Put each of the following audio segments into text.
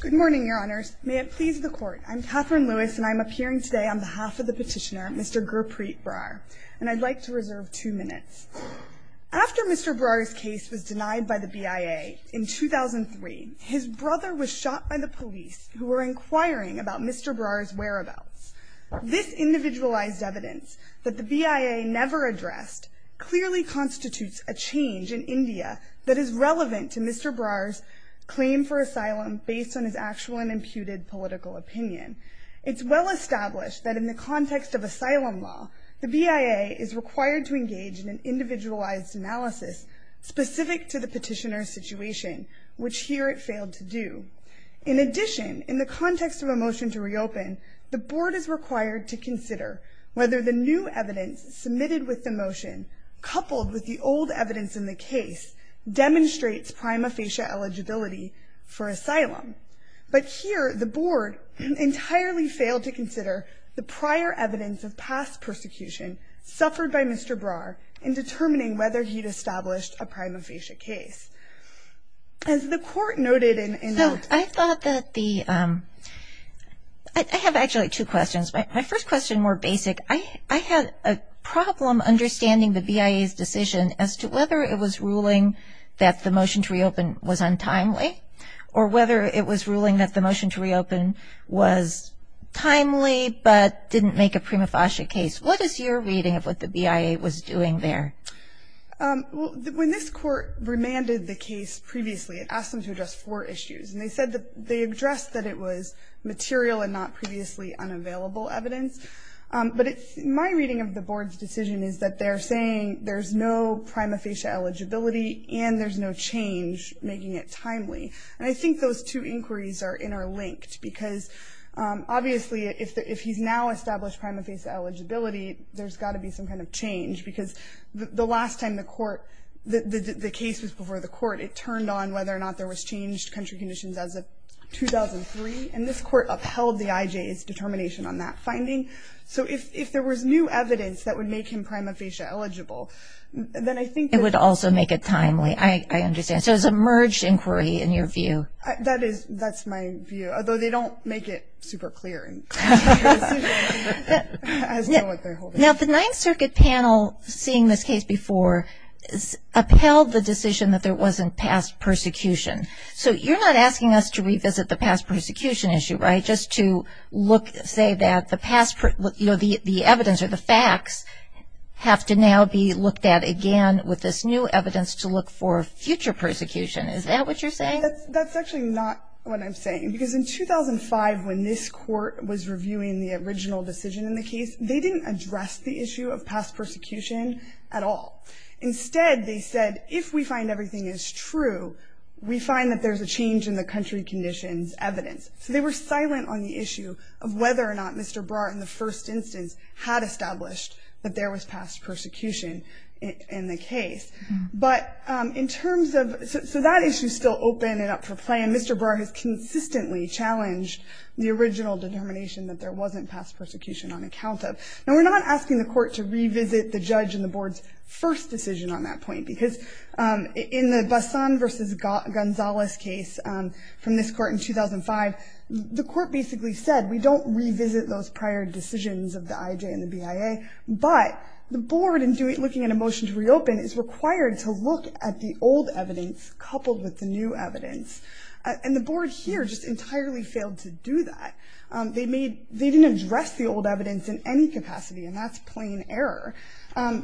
Good morning, Your Honors. May it please the Court, I'm Katherine Lewis and I'm appearing today on behalf of the petitioner, Mr. Gurpreet Brar, and I'd like to reserve two minutes. After Mr. Brar's case was denied by the BIA in 2003, his brother was shot by the police who were inquiring about Mr. Brar's whereabouts. This individualized evidence that the BIA never addressed clearly constitutes a change in India that is relevant to Mr. Brar's claim for asylum based on his actual and imputed political opinion. It's well established that in the context of asylum law, the BIA is required to engage in an individualized analysis specific to the petitioner's situation, which here it failed to do. In addition, in the context of a motion to reopen, the Board is required to consider whether the new evidence submitted with the motion, coupled with the old evidence in the case, demonstrates prima facie eligibility for asylum. But here the Board entirely failed to consider the prior evidence of past persecution suffered by Mr. Brar in determining whether he'd established a prima facie case. As the court noted in the... So I thought that the... I have actually two questions. My first question, more basic, I had a problem understanding the BIA's decision as to whether it was ruling that the motion to reopen was untimely, or whether it was ruling that the motion to reopen was timely but didn't make a prima facie case. What is your reading of what the BIA was doing there? When this court remanded the case previously, it asked them to address four issues. And they said that they addressed that it was material and not previously unavailable evidence. But my reading of the Board's decision is that they're saying there's no prima facie eligibility and there's no change making it timely. And I think those two inquiries are interlinked because obviously if he's now established prima facie eligibility, there's got to be some kind of change because the last time the court, the case was before the court, it turned on whether or not there was changed country conditions as of 2003. And this court upheld the IJ's determination on that finding. So if there was new evidence that would make him prima facie eligible, then I think that... It would also make it timely. I understand. So it's a merged inquiry in your view. That's my view. Although they don't make it super clear. Now, the Ninth Circuit panel, seeing this case before, upheld the decision that there wasn't past persecution. So you're not asking us to revisit the past persecution issue, right? Just to say that the evidence or the facts have to now be looked at again with this new evidence to look for future persecution. Is that what you're saying? That's actually not what I'm saying. Because in 2005, when this court was reviewing the original decision in the case, they didn't address the issue of past persecution at all. Instead, they said, if we find everything is true, we find that there's a change in the country conditions evidence. So they were silent on the issue of whether or not Mr. Brar, in the first instance, had established that there was past persecution in the case. So that issue is still open and up for play, and Mr. Brar has consistently challenged the original determination that there wasn't past persecution on account of. Now, we're not asking the court to revisit the judge in the board's first decision on that point. Because in the Bassan v. Gonzales case from this court in 2005, the court basically said, we don't revisit those prior decisions of the IJ and the BIA, but the board, in looking at a motion to reopen, is required to look at the old evidence coupled with the new evidence. And the board here just entirely failed to do that. They didn't address the old evidence in any capacity, and that's plain error.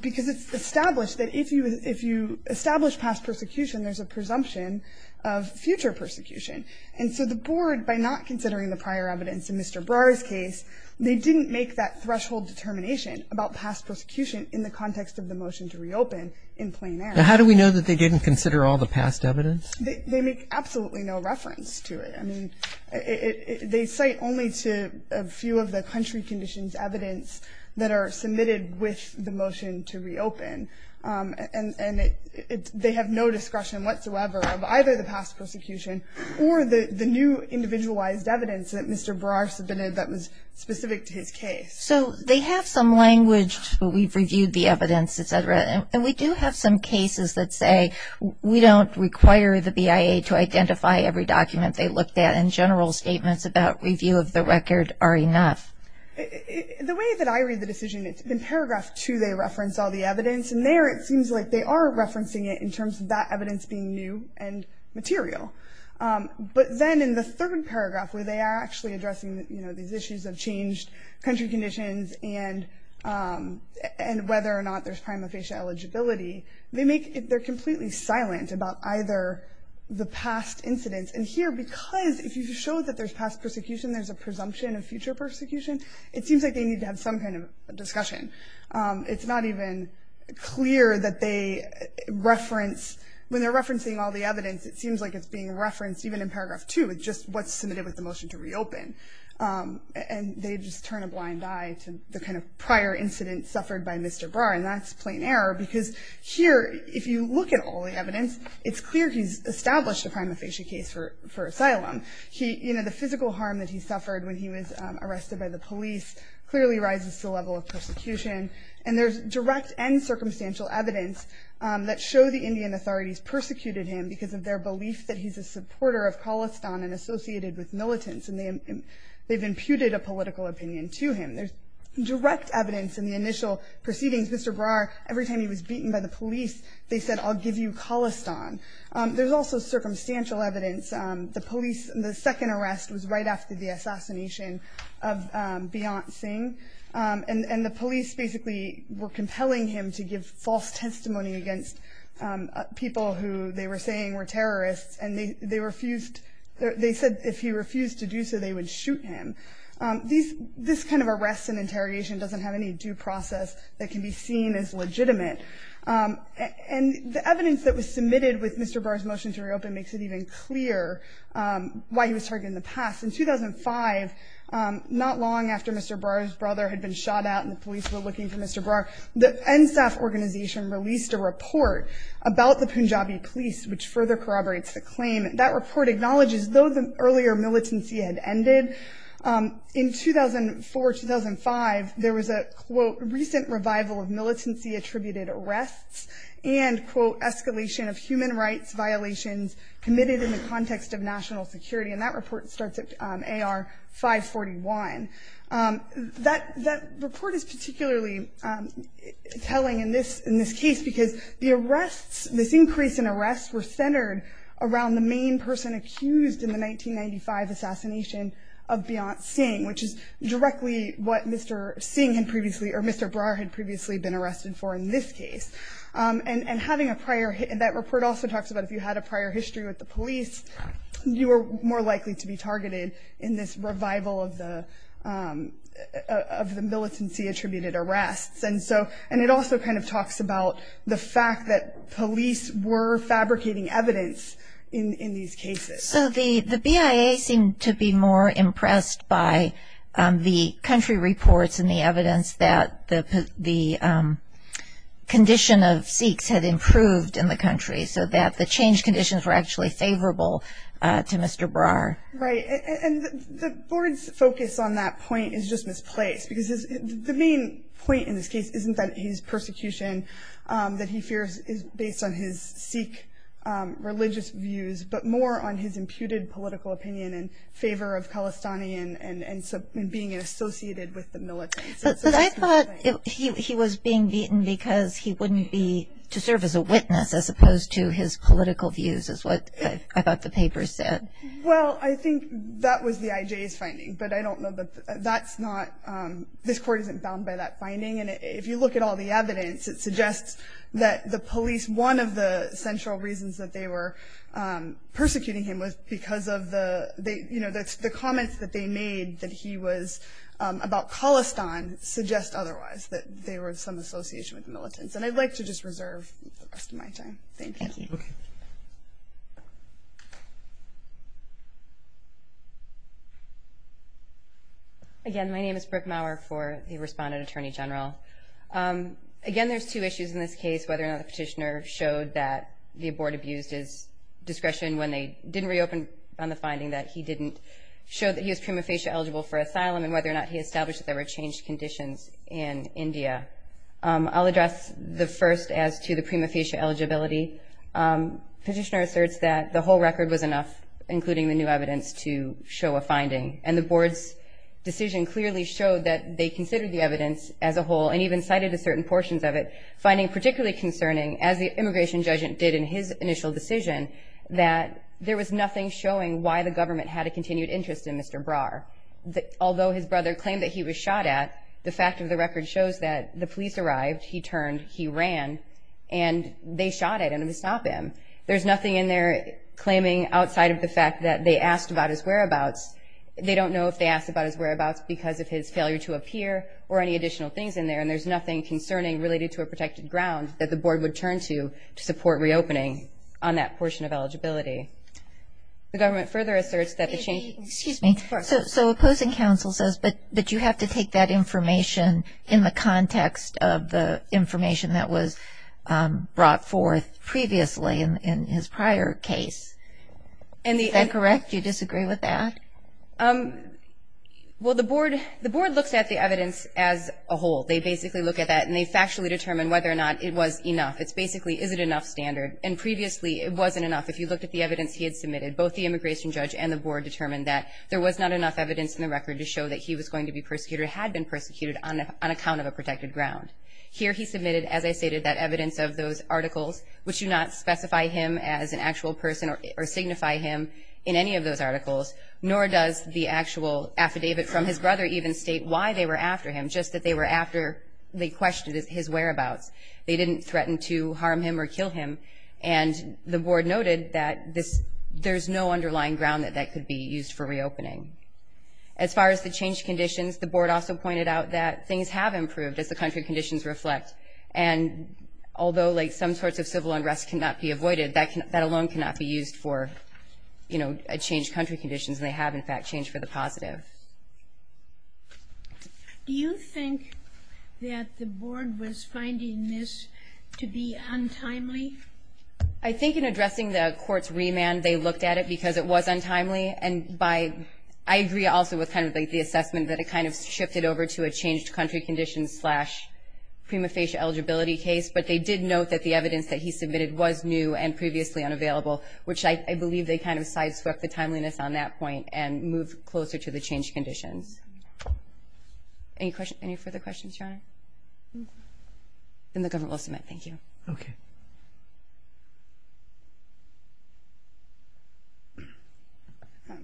Because it's established that if you establish past persecution, there's a presumption of future persecution. And so the board, by not considering the prior evidence in Mr. Brar's case, they didn't make that threshold determination about past persecution in the context of the motion to reopen in plain error. And how do we know that they didn't consider all the past evidence? They make absolutely no reference to it. I mean, they cite only to a few of the country conditions evidence that are submitted with the motion to reopen. And they have no discretion whatsoever of either the past persecution or the new individualized evidence that Mr. Brar submitted that was specific to his case. So they have some language, but we've reviewed the evidence, et cetera, and we do have some cases that say we don't require the BIA to identify every document they looked at, and general statements about review of the record are enough. The way that I read the decision, in paragraph 2 they reference all the evidence, and there it seems like they are referencing it in terms of that evidence being new and material. But then in the third paragraph where they are actually addressing these issues of changed country conditions and whether or not there's prima facie eligibility, they're completely silent about either the past incidents. And here, because if you show that there's past persecution, there's a presumption of future persecution, it seems like they need to have some kind of discussion. It's not even clear that they reference, when they're referencing all the evidence, it seems like it's being referenced even in paragraph 2, it's just what's submitted with the motion to reopen. And they just turn a blind eye to the kind of prior incidents suffered by Mr. Brar, and that's plain error because here, if you look at all the evidence, it's clear he's established a prima facie case for asylum. The physical harm that he suffered when he was arrested by the police clearly rises to the level of persecution. And there's direct and circumstantial evidence that show the Indian authorities persecuted him because of their belief that he's a supporter of Khalistan and associated with militants, and they've imputed a political opinion to him. There's direct evidence in the initial proceedings. Mr. Brar, every time he was beaten by the police, they said, I'll give you Khalistan. There's also circumstantial evidence. The second arrest was right after the assassination of Beyant Singh, and the police basically were compelling him to give false testimony against people who they were saying were terrorists, and they said if he refused to do so, they would shoot him. This kind of arrest and interrogation doesn't have any due process that can be seen as legitimate. And the evidence that was submitted with Mr. Brar's motion to reopen makes it even clearer why he was targeted in the past. In 2005, not long after Mr. Brar's brother had been shot at and the police were looking for Mr. Brar, the NSAF organization released a report about the Punjabi police, which further corroborates the claim. That report acknowledges, though the earlier militancy had ended, in 2004, 2005, there was a, quote, recent revival of militancy attributed arrests and, quote, escalation of human rights violations committed in the context of national security. And that report starts at A.R. 541. That report is particularly telling in this case because the arrests, this increase in arrests were centered around the main person accused in the 1995 assassination of Beyant Singh, which is directly what Mr. Singh had previously or Mr. Brar had previously been arrested for in this case. And having a prior, that report also talks about if you had a prior history with the police, you were more likely to be targeted in this revival of the of the militancy attributed arrests. And so and it also kind of talks about the fact that police were fabricating evidence in these cases. So the BIA seemed to be more impressed by the country reports and the evidence that the condition of Sikhs had improved in the country, so that the change conditions were actually favorable to Mr. Brar. Right. And the board's focus on that point is just misplaced, because the main point in this case isn't that his persecution that he fears is based on his Sikh religious views, but more on his imputed political opinion in favor of Khalistani and being associated with the militants. But I thought he was being beaten because he wouldn't be to serve as a witness, as opposed to his political views, is what I thought the paper said. Well, I think that was the IJ's finding, but I don't know that that's not. This court isn't bound by that finding. And if you look at all the evidence, it suggests that the police, one of the central reasons that they were persecuting him was because of the, you know, that's the comments that they made that he was about Khalistan suggest otherwise, that they were of some association with the militants. And I'd like to just reserve the rest of my time. Thank you. Again, my name is Brooke Maurer for the respondent attorney general. Again, there's two issues in this case, whether or not the petitioner showed that the board abused his discretion when they didn't reopen on the finding that he didn't show that he was prima facie eligible for asylum and whether or not he established that there were changed conditions in India. I'll address the first as to the prima facie eligibility petitioner asserts that the whole record was enough, including the new evidence to show a finding. And the board's decision clearly showed that they considered the evidence as a whole, and even cited a certain portions of it, finding particularly concerning, as the immigration judge did in his initial decision, that there was nothing showing why the government had a continued interest in Mr. Brar. Although his brother claimed that he was shot at, the fact of the record shows that the police arrived, he turned, he ran, and they shot at him to stop him. There's nothing in there claiming outside of the fact that they asked about his whereabouts. They don't know if they asked about his whereabouts because of his failure to appear or any additional things in there, and there's nothing concerning related to a protected ground that the board would turn to to support reopening on that portion of eligibility. The government further asserts that the change... Excuse me. So opposing counsel says that you have to take that information in the context of the information that was brought forth previously in his prior case. Is that correct? Do you disagree with that? Well, the board looks at the evidence as a whole. They basically look at that, and they factually determine whether or not it was enough. It's basically, is it enough standard? And previously, it wasn't enough. If you looked at the evidence he had submitted, both the immigration judge and the board determined that there was not enough evidence in the record to show that he was going to be persecuted or had been persecuted on account of a protected ground. Here he submitted, as I stated, that evidence of those articles, which do not specify him as an actual person or signify him in any of those articles, nor does the actual affidavit from his brother even state why they were after him, just that they were after... They questioned his whereabouts. They didn't threaten to harm him or kill him. And the board noted that there's no underlying ground that that could be used for reopening. As far as the changed conditions, the board also pointed out that things have improved as the country conditions reflect, and although, like, some sorts of civil unrest cannot be avoided, that alone cannot be used for, you know, a changed country conditions, and they have, in fact, changed for the positive. Do you think that the board was finding this to be untimely? I think in addressing the court's remand, they looked at it because it was untimely, and by... I agree also with kind of, like, the assessment that it kind of shifted over to a changed country conditions slash prima facie eligibility case, but they did note that the evidence that he submitted was new and previously unavailable, which I believe they kind of sideswept the timeliness on that point and moved closer to the changed conditions. Any further questions, Your Honor? Then the government will submit. Thank you. Okay.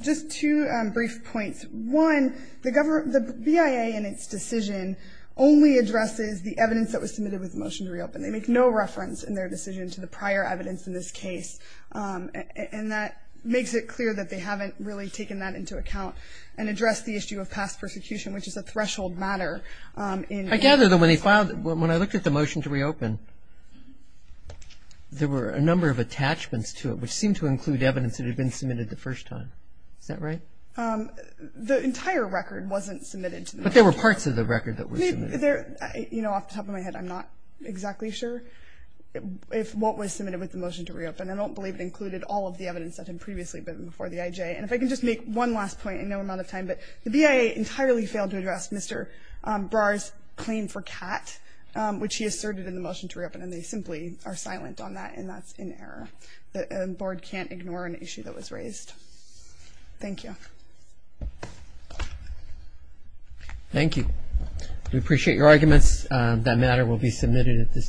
Just two brief points. One, the BIA in its decision only addresses the evidence that was submitted with the motion to reopen. They make no reference in their decision to the prior evidence in this case, and that makes it clear that they haven't really taken that into account and addressed the issue of past persecution, which is a threshold matter in... I gather that when they filed it, when I looked at the motion to reopen, there were a number of attachments to it, which seemed to include evidence that had been submitted the first time. Is that right? The entire record wasn't submitted. But there were parts of the record that were submitted. You know, off the top of my head, I'm not exactly sure what was submitted with the motion to reopen. I don't believe it included all of the evidence that had previously been before the IJ. And if I can just make one last point in no amount of time, but the BIA entirely failed to address Mr. Brar's claim for Kat, which he asserted in the motion to reopen, and they simply are silent on that, and that's in error. The board can't ignore an issue that was raised. Thank you. Thank you. We appreciate your arguments. That matter will be submitted at this time.